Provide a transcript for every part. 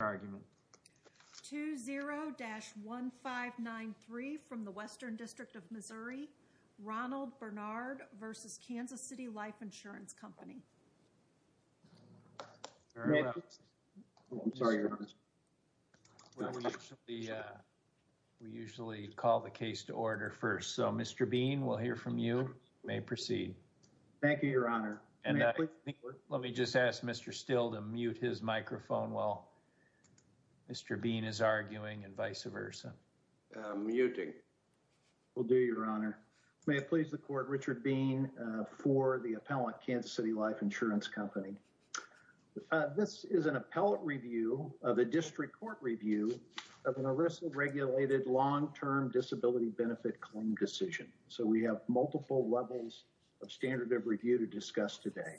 We usually call the case to order first. So Mr. Bean, we'll hear from you. You may proceed. Thank you, Your Honor. Let me just ask Mr. Steele to mute his microphone while Mr. Bean is arguing and vice versa. Muting. Will do, Your Honor. May it please the Court, Richard Bean for the appellate Kansas City Life Insurance Company. This is an appellate review of a district court review of an arrested, regulated, long-term disability benefit claim decision. So we have multiple levels of standard of review to discuss today.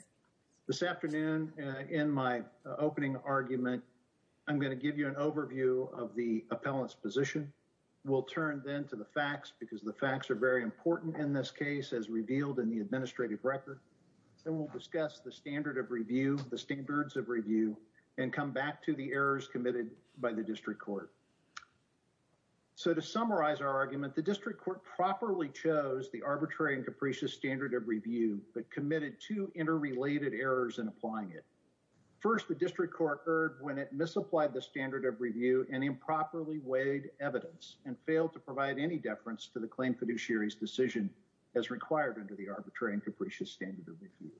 This afternoon, in my opening argument, I'm going to give you an overview of the appellant's position. We'll turn then to the facts because the facts are very important in this case as revealed in the administrative record. Then we'll discuss the standard of review, the standards of review, and come back to the errors committed by the district court. So to summarize our argument, the district court properly chose the arbitrary and capricious standard of review but committed two interrelated errors in applying it. First, the district court erred when it misapplied the standard of review and improperly weighed evidence and failed to provide any deference to the claim fiduciary's decision as required under the arbitrary and capricious standard of review.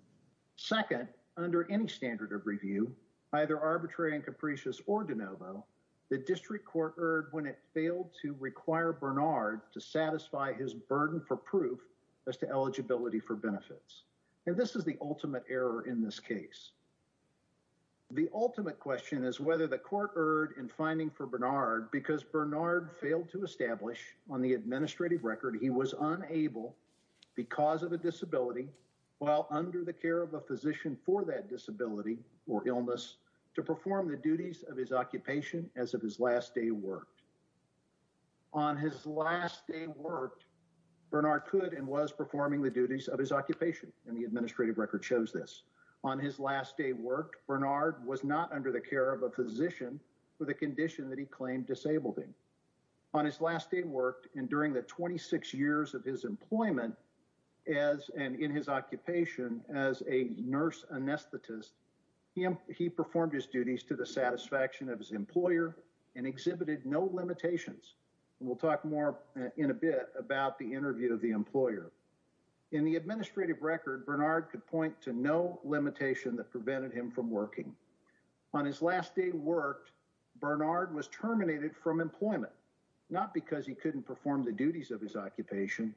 Second, under any standard of review, either arbitrary and capricious or de novo, the district court erred when it failed to require Bernard to satisfy his burden for proof as to eligibility for benefits. And this is the ultimate error in this case. The ultimate question is whether the court erred in finding for Bernard because Bernard failed to establish on the administrative record he was unable, because of a disability, while under the care of a physician for that disability or illness, to perform the duties of his occupation as of his last day worked. On his last day worked, Bernard could and was performing the duties of his occupation, and the administrative record shows this. On his last day worked, Bernard was not under the care of a physician with a condition that he claimed disabled him. On his last day worked, and during the 26 years of his employment and in his occupation as a nurse anesthetist, he performed his duties to the satisfaction of his employer and exhibited no limitations. We'll talk more in a bit about the interview of the employer. In the administrative record, Bernard could point to no limitation that prevented him from working. On his last day worked, Bernard was terminated from employment, not because he couldn't perform the duties of his occupation,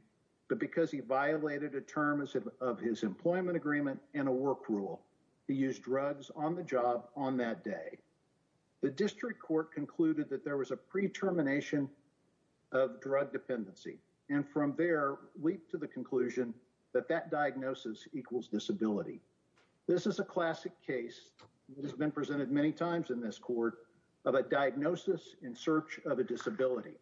but because he violated a term of his employment agreement and a work rule. He used drugs on the job on that day. The district court concluded that there was a pre-termination of drug dependency, and from there leaped to the conclusion that that diagnosis equals disability. This is a classic case that has been presented many times in this court of a diagnosis in search of a disability,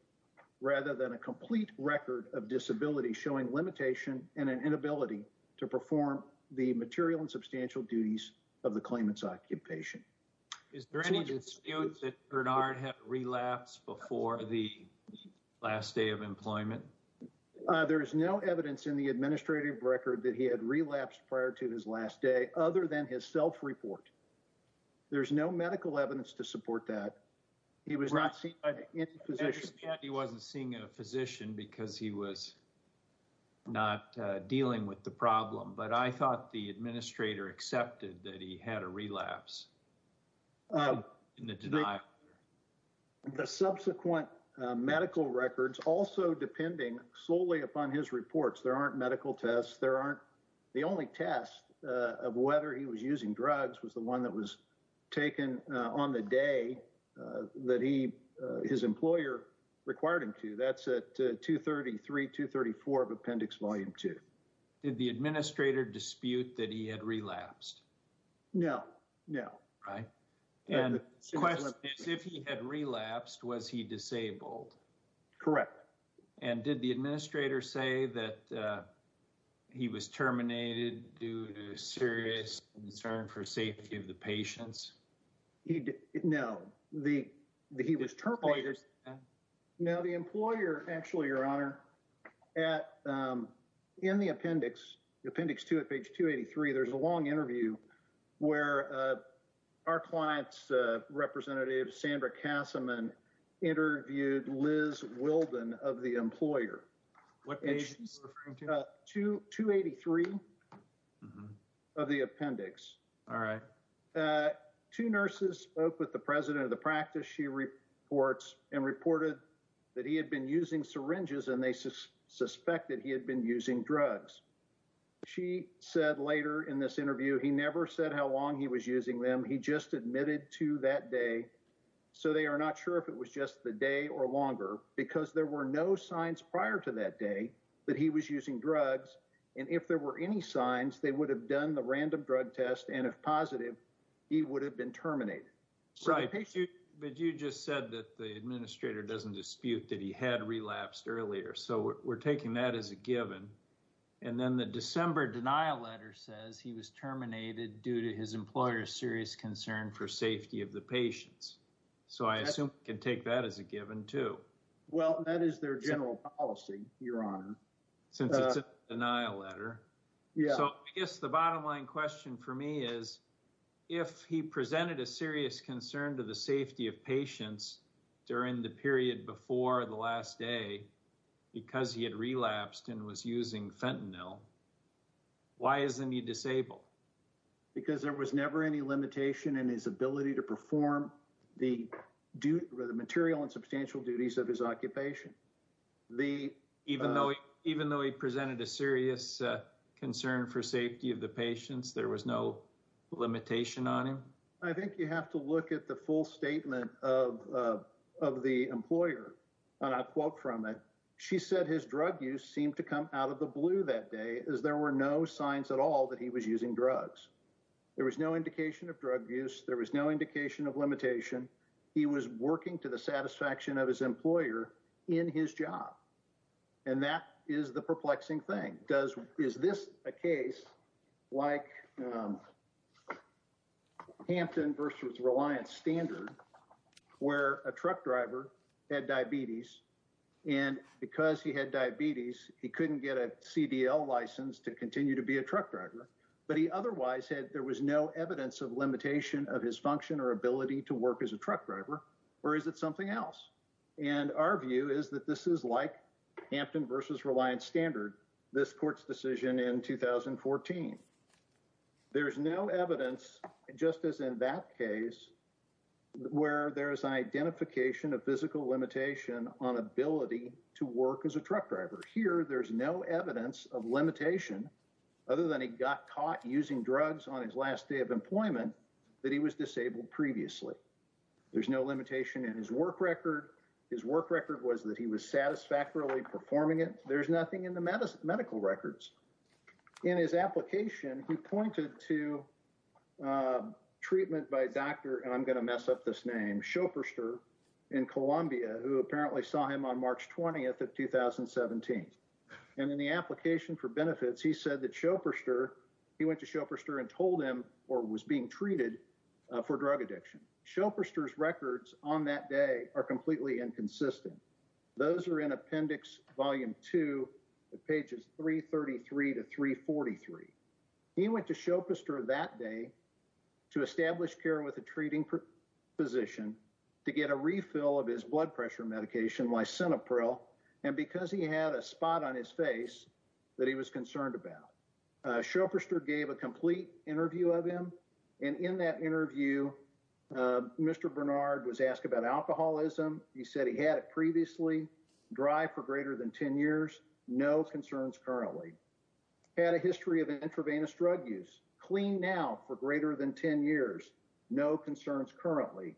rather than a complete record of disability showing limitation and an inability to perform the material and substantial duties of the claimant's occupation. Is there any dispute that Bernard had relapsed before the last day of employment? There is no evidence in the administrative record that he had relapsed prior to his last day, other than his self-report. There's no medical evidence to support that. He was not seen by any physician. I understand he wasn't seeing a physician because he was not dealing with the problem, but I thought the administrator accepted that he had a relapse in the denial. The subsequent medical records, also depending solely upon his reports, there aren't medical tests. The only test of whether he was using drugs was the one that was taken on the day that his employer required him to. That's at 233, 234 of Appendix Volume 2. Did the administrator dispute that he had relapsed? No, no. And the question is, if he had relapsed, was he disabled? Correct. And did the administrator say that he was terminated due to serious concern for safety of the patients? No, he was terminated. Now, the employer, actually, Your Honor, in the appendix, Appendix 2 at page 283, there's a long interview where our client's representative, Sandra Kassaman, interviewed Liz Wilden of the employer. What page is she referring to? 283 of the appendix. All right. Two nurses spoke with the president of the practice, she reports, and reported that he had been using syringes and they suspected he had been using drugs. She said later in this interview he never said how long he was using them. He just admitted to that day. So they are not sure if it was just the day or longer, because there were no signs prior to that day that he was using drugs. And if there were any signs, they would have done the random drug test, and if positive, he would have been terminated. But you just said that the administrator doesn't dispute that he had relapsed earlier, so we're taking that as a given. And then the December denial letter says he was terminated due to his employer's serious concern for safety of the patients. So I assume we can take that as a given, too. Well, that is their general policy, Your Honor. Since it's a denial letter. So I guess the bottom line question for me is, if he presented a serious concern to the safety of patients during the period before the last day, because he had relapsed and was using fentanyl, why isn't he disabled? Because there was never any limitation in his ability to perform the material and substantial duties of his occupation. Even though he presented a serious concern for safety of the patients, there was no limitation on him? I think you have to look at the full statement of the employer. And I'll quote from it. She said his drug use seemed to come out of the blue that day as there were no signs at all that he was using drugs. There was no indication of drug use. There was no indication of limitation. He was working to the satisfaction of his employer in his job. And that is the perplexing thing. Does is this a case like Hampton versus Reliance Standard, where a truck driver had diabetes and because he had diabetes, he couldn't get a CDL license to continue to be a truck driver. But he otherwise said there was no evidence of limitation of his function or ability to work as a truck driver. Or is it something else? And our view is that this is like Hampton versus Reliance Standard. This court's decision in 2014, there is no evidence, just as in that case, where there is identification of physical limitation on ability to work as a truck driver. Here, there's no evidence of limitation other than he got caught using drugs on his last day of employment that he was disabled previously. There's no limitation in his work record. His work record was that he was satisfactorily performing it. There's nothing in the medical records. In his application, he pointed to treatment by a doctor, and I'm going to mess up this name, Schoepferster in Columbia, who apparently saw him on March 20th of 2017. And in the application for benefits, he said that Schoepferster, he went to Schoepferster and told him or was being treated for drug addiction. Schoepferster's records on that day are completely inconsistent. Those are in Appendix Volume 2, pages 333 to 343. He went to Schoepferster that day to establish care with a treating physician to get a refill of his blood pressure medication, Lisinopril, and because he had a spot on his face that he was concerned about. Schoepferster gave a complete interview of him, and in that interview, Mr. Bernard was asked about alcoholism. He said he had it previously, dry for greater than 10 years, no concerns currently. Had a history of intravenous drug use, clean now for greater than 10 years, no concerns currently.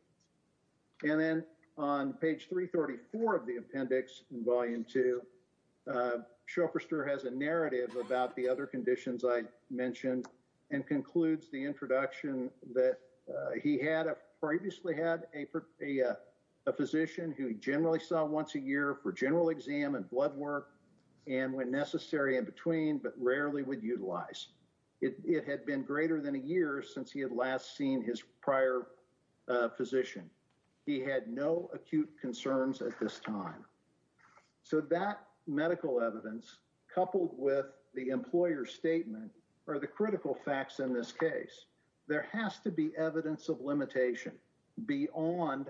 And then on page 334 of the appendix in Volume 2, Schoepferster has a narrative about the other conditions I mentioned and concludes the introduction that he had previously had a physician who he generally saw once a year for general exam and blood work, and when necessary, in between, but rarely would utilize. It had been greater than a year since he had last seen his prior physician. He had no acute concerns at this time. So that medical evidence, coupled with the employer's statement, are the critical facts in this case. There has to be evidence of limitation beyond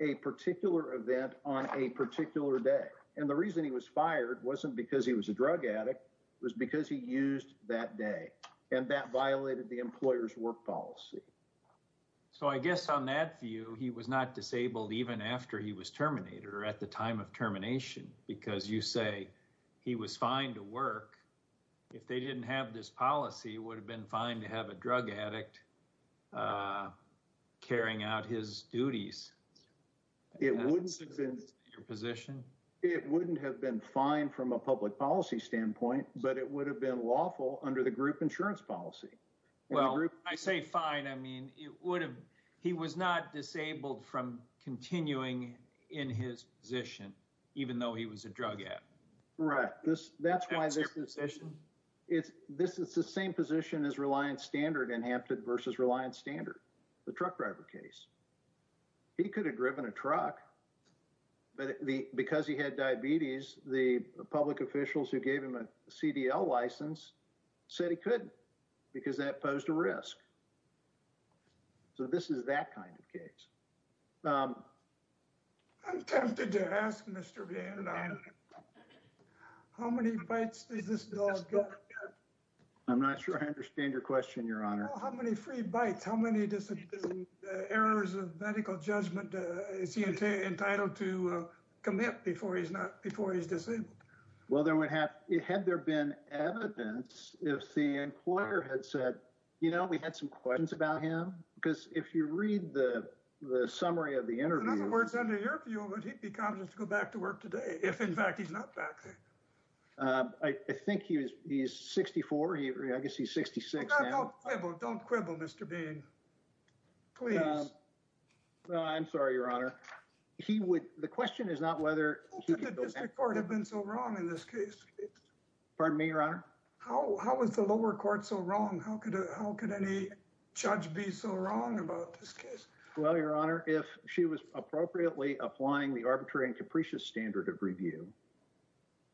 a particular event on a particular day. And the reason he was fired wasn't because he was a drug addict, it was because he used that day, and that violated the employer's work policy. So I guess on that view, he was not disabled even after he was terminated or at the time of termination, because you say he was fine to work. If they didn't have this policy, it would have been fine to have a drug addict carrying out his duties. It wouldn't have been fine from a public policy standpoint, but it would have been lawful under the group insurance policy. Well, I say fine, I mean, it would have, he was not disabled from continuing in his position, even though he was a drug addict. Right, that's why this is the same position as Reliance Standard in Hampton versus Reliance Standard, the truck driver case. He could have driven a truck, but because he had diabetes, the public officials who gave him a CDL license said he couldn't, because that posed a risk. So this is that kind of case. I'm tempted to ask, Mr. Bannon, how many bites does this dog get? I'm not sure I understand your question, Your Honor. How many free bites, how many errors of medical judgment is he entitled to commit before he's disabled? Well, had there been evidence, if the employer had said, you know, we had some questions about him, because if you read the summary of the interview... In other words, under your view, would he be conscious to go back to work today if, in fact, he's not back there? I think he's 64, I guess he's 66 now. Don't quibble, Mr. Bannon. Please. I'm sorry, Your Honor. The question is not whether... How could the district court have been so wrong in this case? Pardon me, Your Honor? How was the lower court so wrong? How could any judge be so wrong about this case? Well, Your Honor, if she was appropriately applying the arbitrary and capricious standard of review,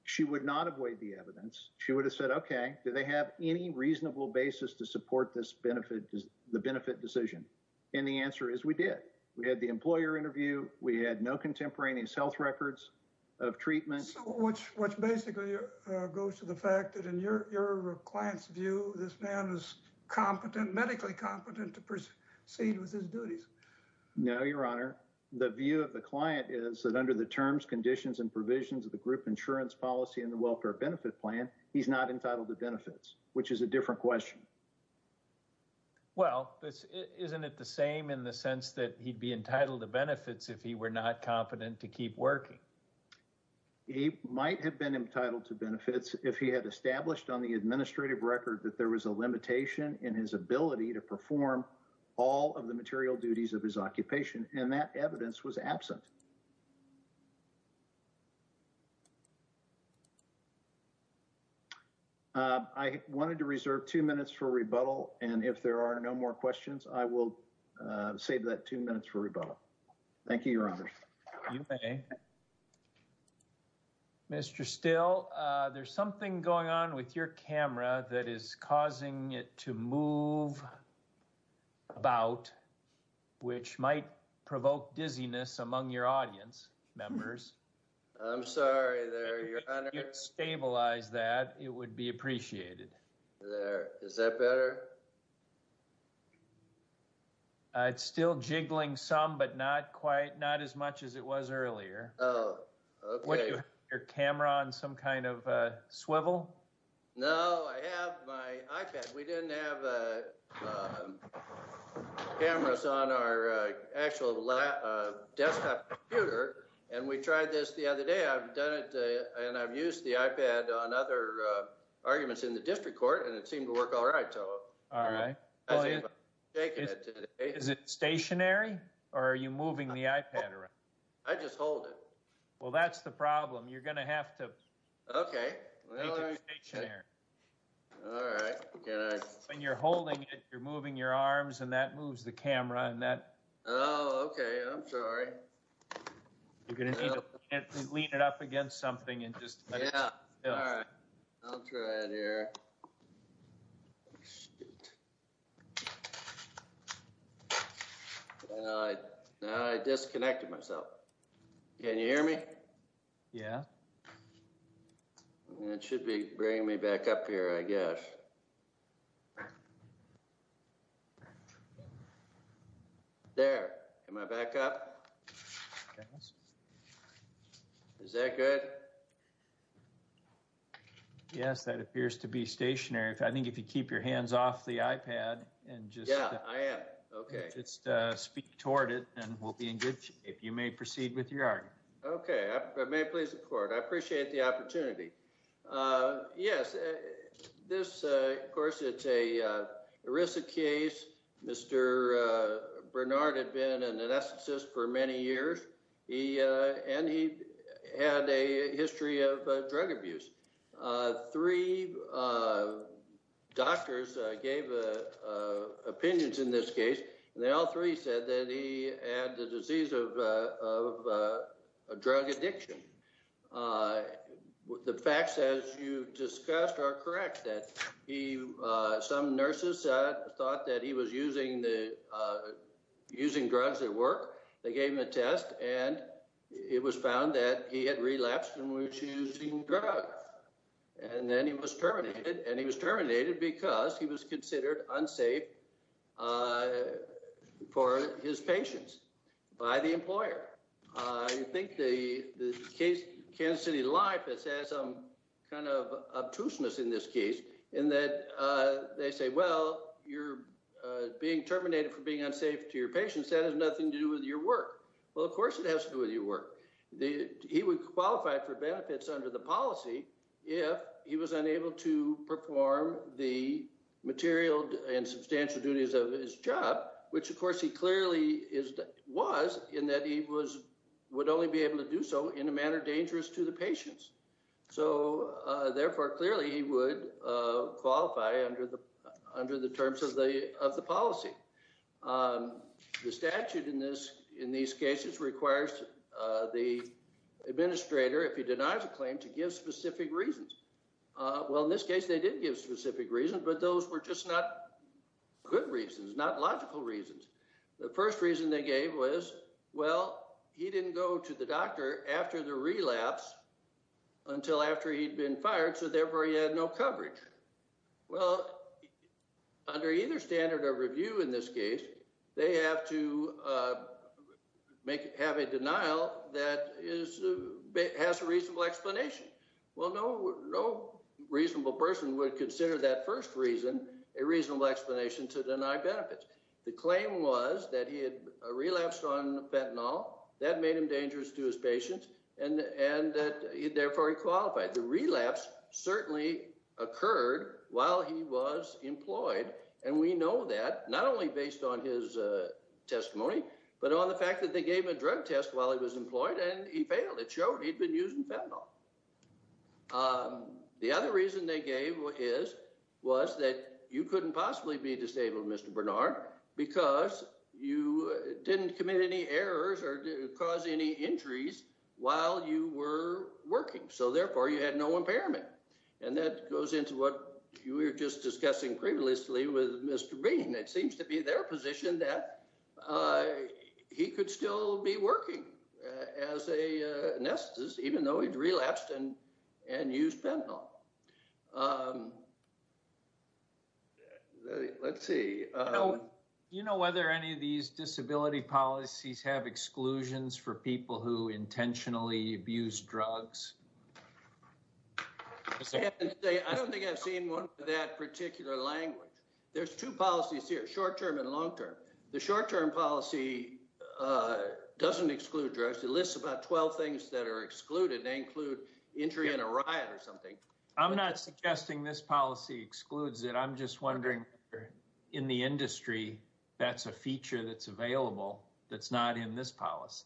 she would not avoid the evidence. She would have said, okay, do they have any reasonable basis to support this benefit, the benefit decision? And the answer is we did. We had the employer interview. We had no contemporaneous health records of treatment. Which basically goes to the fact that in your client's view, this man is competent, medically competent to proceed with his duties. No, Your Honor. The view of the client is that under the terms, conditions, and provisions of the group insurance policy and the welfare benefit plan, he's not entitled to benefits, which is a different question. Well, isn't it the same in the sense that he'd be entitled to benefits if he were not competent to keep working? He might have been entitled to benefits if he had established on the administrative record that there was a limitation in his ability to perform all of the material duties of his occupation. And that evidence was absent. I wanted to reserve two minutes for rebuttal, and if there are no more questions, I will save that two minutes for rebuttal. Thank you, Your Honor. You may. Mr. Still, there's something going on with your camera that is causing it to move about, which might provoke dizziness among your audience members. I'm sorry there, Your Honor. If you could stabilize that, it would be appreciated. There. Is that better? It's still jiggling some, but not quite not as much as it was earlier. Oh, OK. Your camera on some kind of a swivel? No, I have my iPad. We didn't have cameras on our actual desktop computer, and we tried this the other day. And I've used the iPad on other arguments in the district court, and it seemed to work all right. Is it stationary or are you moving the iPad around? I just hold it. Well, that's the problem. You're going to have to make it stationary. All right. When you're holding it, you're moving your arms and that moves the camera. Oh, OK. I'm sorry. You're going to need to lean it up against something and just. Yeah. All right. I'll try it here. I disconnected myself. Can you hear me? Yeah. It should be bringing me back up here, I guess. OK. There, am I back up? Yes. Is that good? Yes, that appears to be stationary. I think if you keep your hands off the iPad and just. Yeah, I am. OK. Speak toward it and we'll be in good shape. You may proceed with your argument. OK. May it please the court. I appreciate the opportunity. Yes, this, of course, it's a risk case. Mr. Bernard had been an anesthetist for many years. He and he had a history of drug abuse. Three doctors gave opinions in this case. And they all three said that he had the disease of a drug addiction. The facts, as you discussed, are correct that he some nurses thought that he was using the using drugs at work. They gave him a test and it was found that he had relapsed and we were choosing drugs. And then he was terminated and he was terminated because he was considered unsafe for his patients by the employer. I think the case Kansas City Life has had some kind of obtuseness in this case in that they say, well, you're being terminated for being unsafe to your patients. That has nothing to do with your work. Well, of course, it has to do with your work. He would qualify for benefits under the policy if he was unable to perform the material and substantial duties of his job, which, of course, he clearly is was in that he was would only be able to do so in a manner dangerous to the patients. So therefore, clearly, he would qualify under the under the terms of the of the policy. The statute in this in these cases requires the administrator, if he denies a claim to give specific reasons. Well, in this case, they did give specific reasons, but those were just not good reasons, not logical reasons. The first reason they gave was, well, he didn't go to the doctor after the relapse until after he'd been fired. So therefore, he had no coverage. Well, under either standard of review in this case, they have to make have a denial that is has a reasonable explanation. Well, no, no reasonable person would consider that first reason a reasonable explanation to deny benefits. The claim was that he had relapsed on fentanyl that made him dangerous to his patients and that therefore he qualified. The relapse certainly occurred while he was employed. And we know that not only based on his testimony, but on the fact that they gave a drug test while he was employed and he failed. It showed he'd been using fentanyl. The other reason they gave is was that you couldn't possibly be disabled, Mr. Bernard, because you didn't commit any errors or cause any injuries while you were working. So therefore, you had no impairment. And that goes into what you were just discussing previously with Mr. Bean. It seems to be their position that he could still be working as a anesthetist, even though he'd relapsed and and used fentanyl. Let's see, do you know whether any of these disability policies have exclusions for people who intentionally abuse drugs? I don't think I've seen one that particular language. There's two policies here, short term and long term. The short term policy doesn't exclude drugs. It lists about 12 things that are excluded. They include injury in a riot or something. I'm not suggesting this policy excludes it. I'm just wondering in the industry, that's a feature that's available that's not in this policy.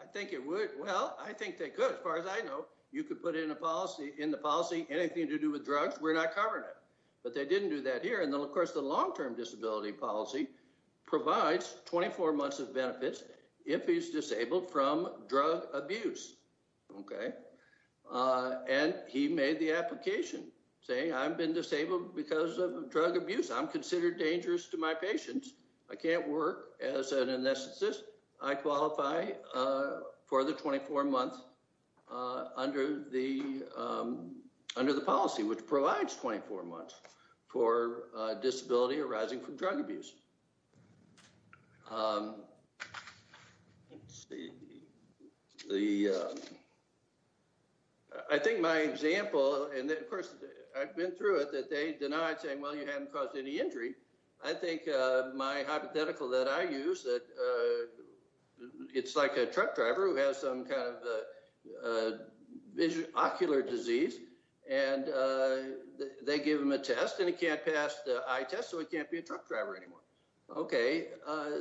I think it would. Well, I think they could. As far as I know, you could put in a policy in the policy anything to do with drugs. We're not covering it, but they didn't do that here. And then, of course, the long term disability policy provides 24 months of benefits if he's disabled from drug abuse. And he made the application saying, I've been disabled because of drug abuse. I'm considered dangerous to my patients. I can't work as an anesthetist. I qualify for the 24 months under the under the policy, which provides 24 months for disability arising from drug abuse. The. I think my example, and of course, I've been through it, that they denied saying, well, you haven't caused any injury. I think my hypothetical that I use that it's like a truck driver who has some kind of vision, ocular disease, and they give him a test and he can't pass the eye test. So it can't be a truck driver anymore. OK,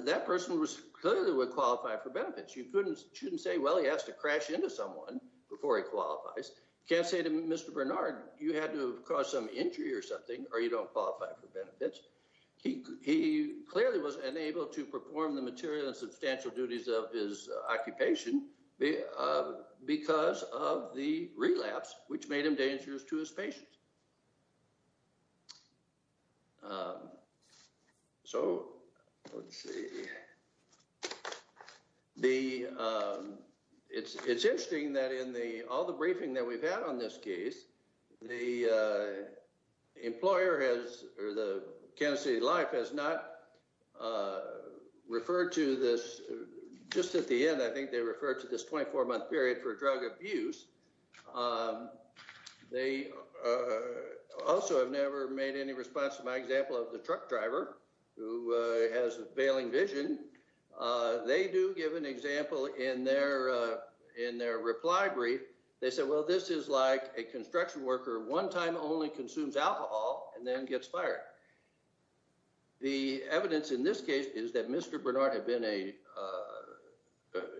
that person was clearly would qualify for benefits. You couldn't shouldn't say, well, he has to crash into someone before he qualifies. Can't say to Mr. Bernard, you had to cause some injury or something or you don't qualify for benefits. He clearly was unable to perform the material and substantial duties of his occupation because of the relapse, which made him dangerous to his patients. So let's see the it's it's interesting that in the all the briefing that we've had on this case, the employer has or the Kansas City Life has not referred to this just at the end. I think they refer to this 24 month period for drug abuse. They also have never made any response to my example of the truck driver who has a failing vision. They do give an example in their in their reply brief. They said, well, this is like a construction worker. One time only consumes alcohol and then gets fired. The evidence in this case is that Mr. Bernard had been a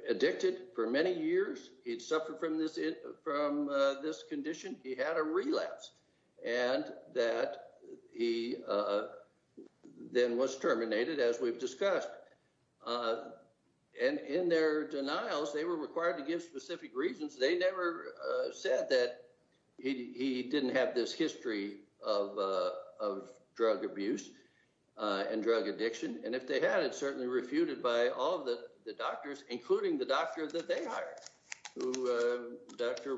addicted for many years. He'd suffered from this from this condition. He had a relapse and that he then was terminated, as we've discussed. And in their denials, they were required to give specific reasons. They never said that he didn't have this history of of drug abuse and drug addiction. And if they had it certainly refuted by all of the doctors, including the doctor that they hired, who Dr.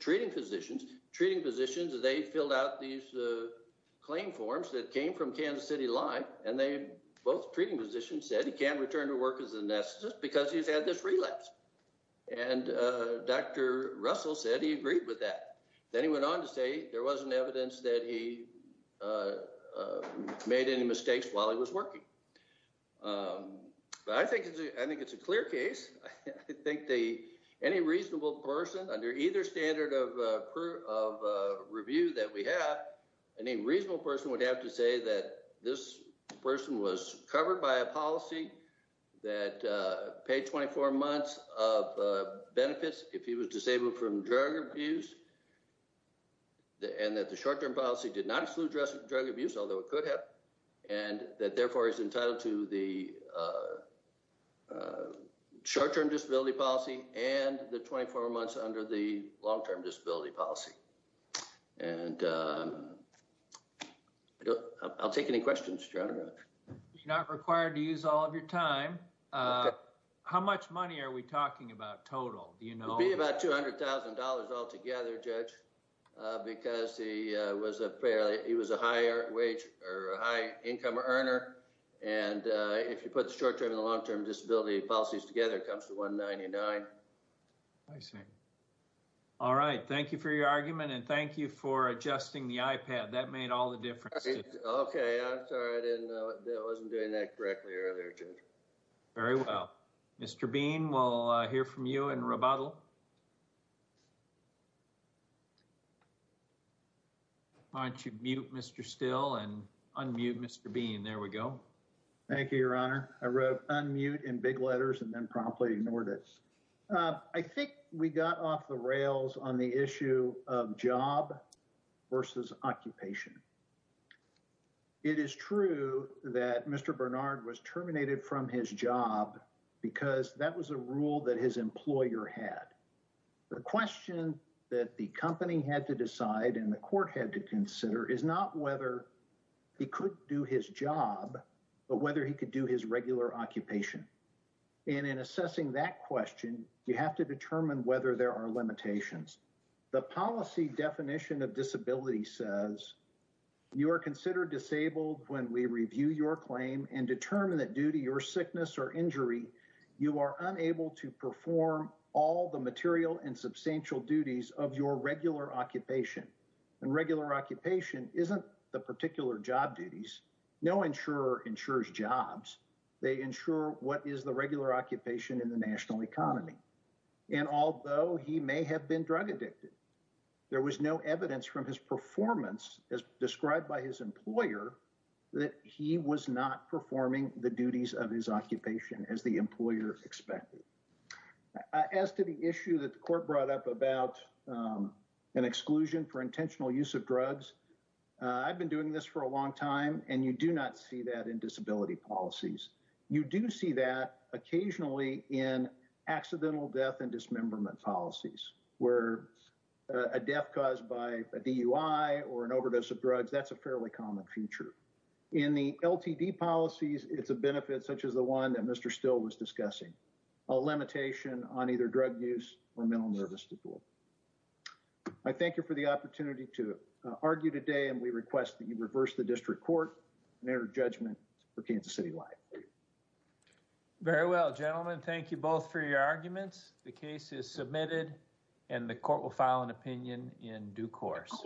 Treating physicians, treating physicians, they filled out these claim forms that came from Kansas City Life. And they both treating physician said he can return to work as a anesthetist because he's had this relapse. And Dr. Russell said he agreed with that. Then he went on to say there wasn't evidence that he made any mistakes while he was working. But I think I think it's a clear case. I think the any reasonable person under either standard of review that we have, any reasonable person would have to say that this person was covered by a policy that paid 24 months of benefits. If he was disabled from drug abuse. And that the short term policy did not include drug abuse, although it could have. And that therefore is entitled to the short term disability policy and the 24 months under the long term disability policy. And I'll take any questions. You're not required to use all of your time. How much money are we talking about total? You know, be about two hundred thousand dollars altogether, judge, because he was a fairly he was a higher wage or high income earner. And if you put the short term and the long term disability policies together, it comes to one ninety nine. I see. All right. Thank you for your argument and thank you for adjusting the iPad. That made all the difference. OK, I'm sorry. I didn't know that wasn't doing that correctly earlier. Very well. Mr. Bean, we'll hear from you in rebuttal. Why don't you mute Mr. Still and unmute Mr. Bean. There we go. Thank you, Your Honor. I wrote unmute in big letters and then promptly ignored it. I think we got off the rails on the issue of job versus occupation. It is true that Mr. Bernard was terminated from his job because that was a rule that his employer had. The question that the company had to decide and the court had to consider is not whether he could do his job, but whether he could do his regular occupation. And in assessing that question, you have to determine whether there are limitations. The policy definition of disability says you are considered disabled when we review your claim and determine that due to your sickness or injury, you are unable to perform all the material and substantial duties of your regular occupation. And regular occupation isn't the particular job duties. No insurer insures jobs. They ensure what is the regular occupation in the national economy. And although he may have been drug addicted, there was no evidence from his performance as described by his employer that he was not performing the duties of his occupation as the employer expected. As to the issue that the court brought up about an exclusion for intentional use of drugs, I've been doing this for a long time and you do not see that in disability policies. You do see that occasionally in accidental death and dismemberment policies where a death caused by a DUI or an overdose of drugs, that's a fairly common feature. In the LTD policies, it's a benefit such as the one that Mr. Still was discussing, a limitation on either drug use or mental nervous disorder. I thank you for the opportunity to argue today and we request that you reverse the district court and enter judgment for Kansas City Life. Very well, gentlemen. Thank you both for your arguments. The case is submitted and the court will file an opinion in due course.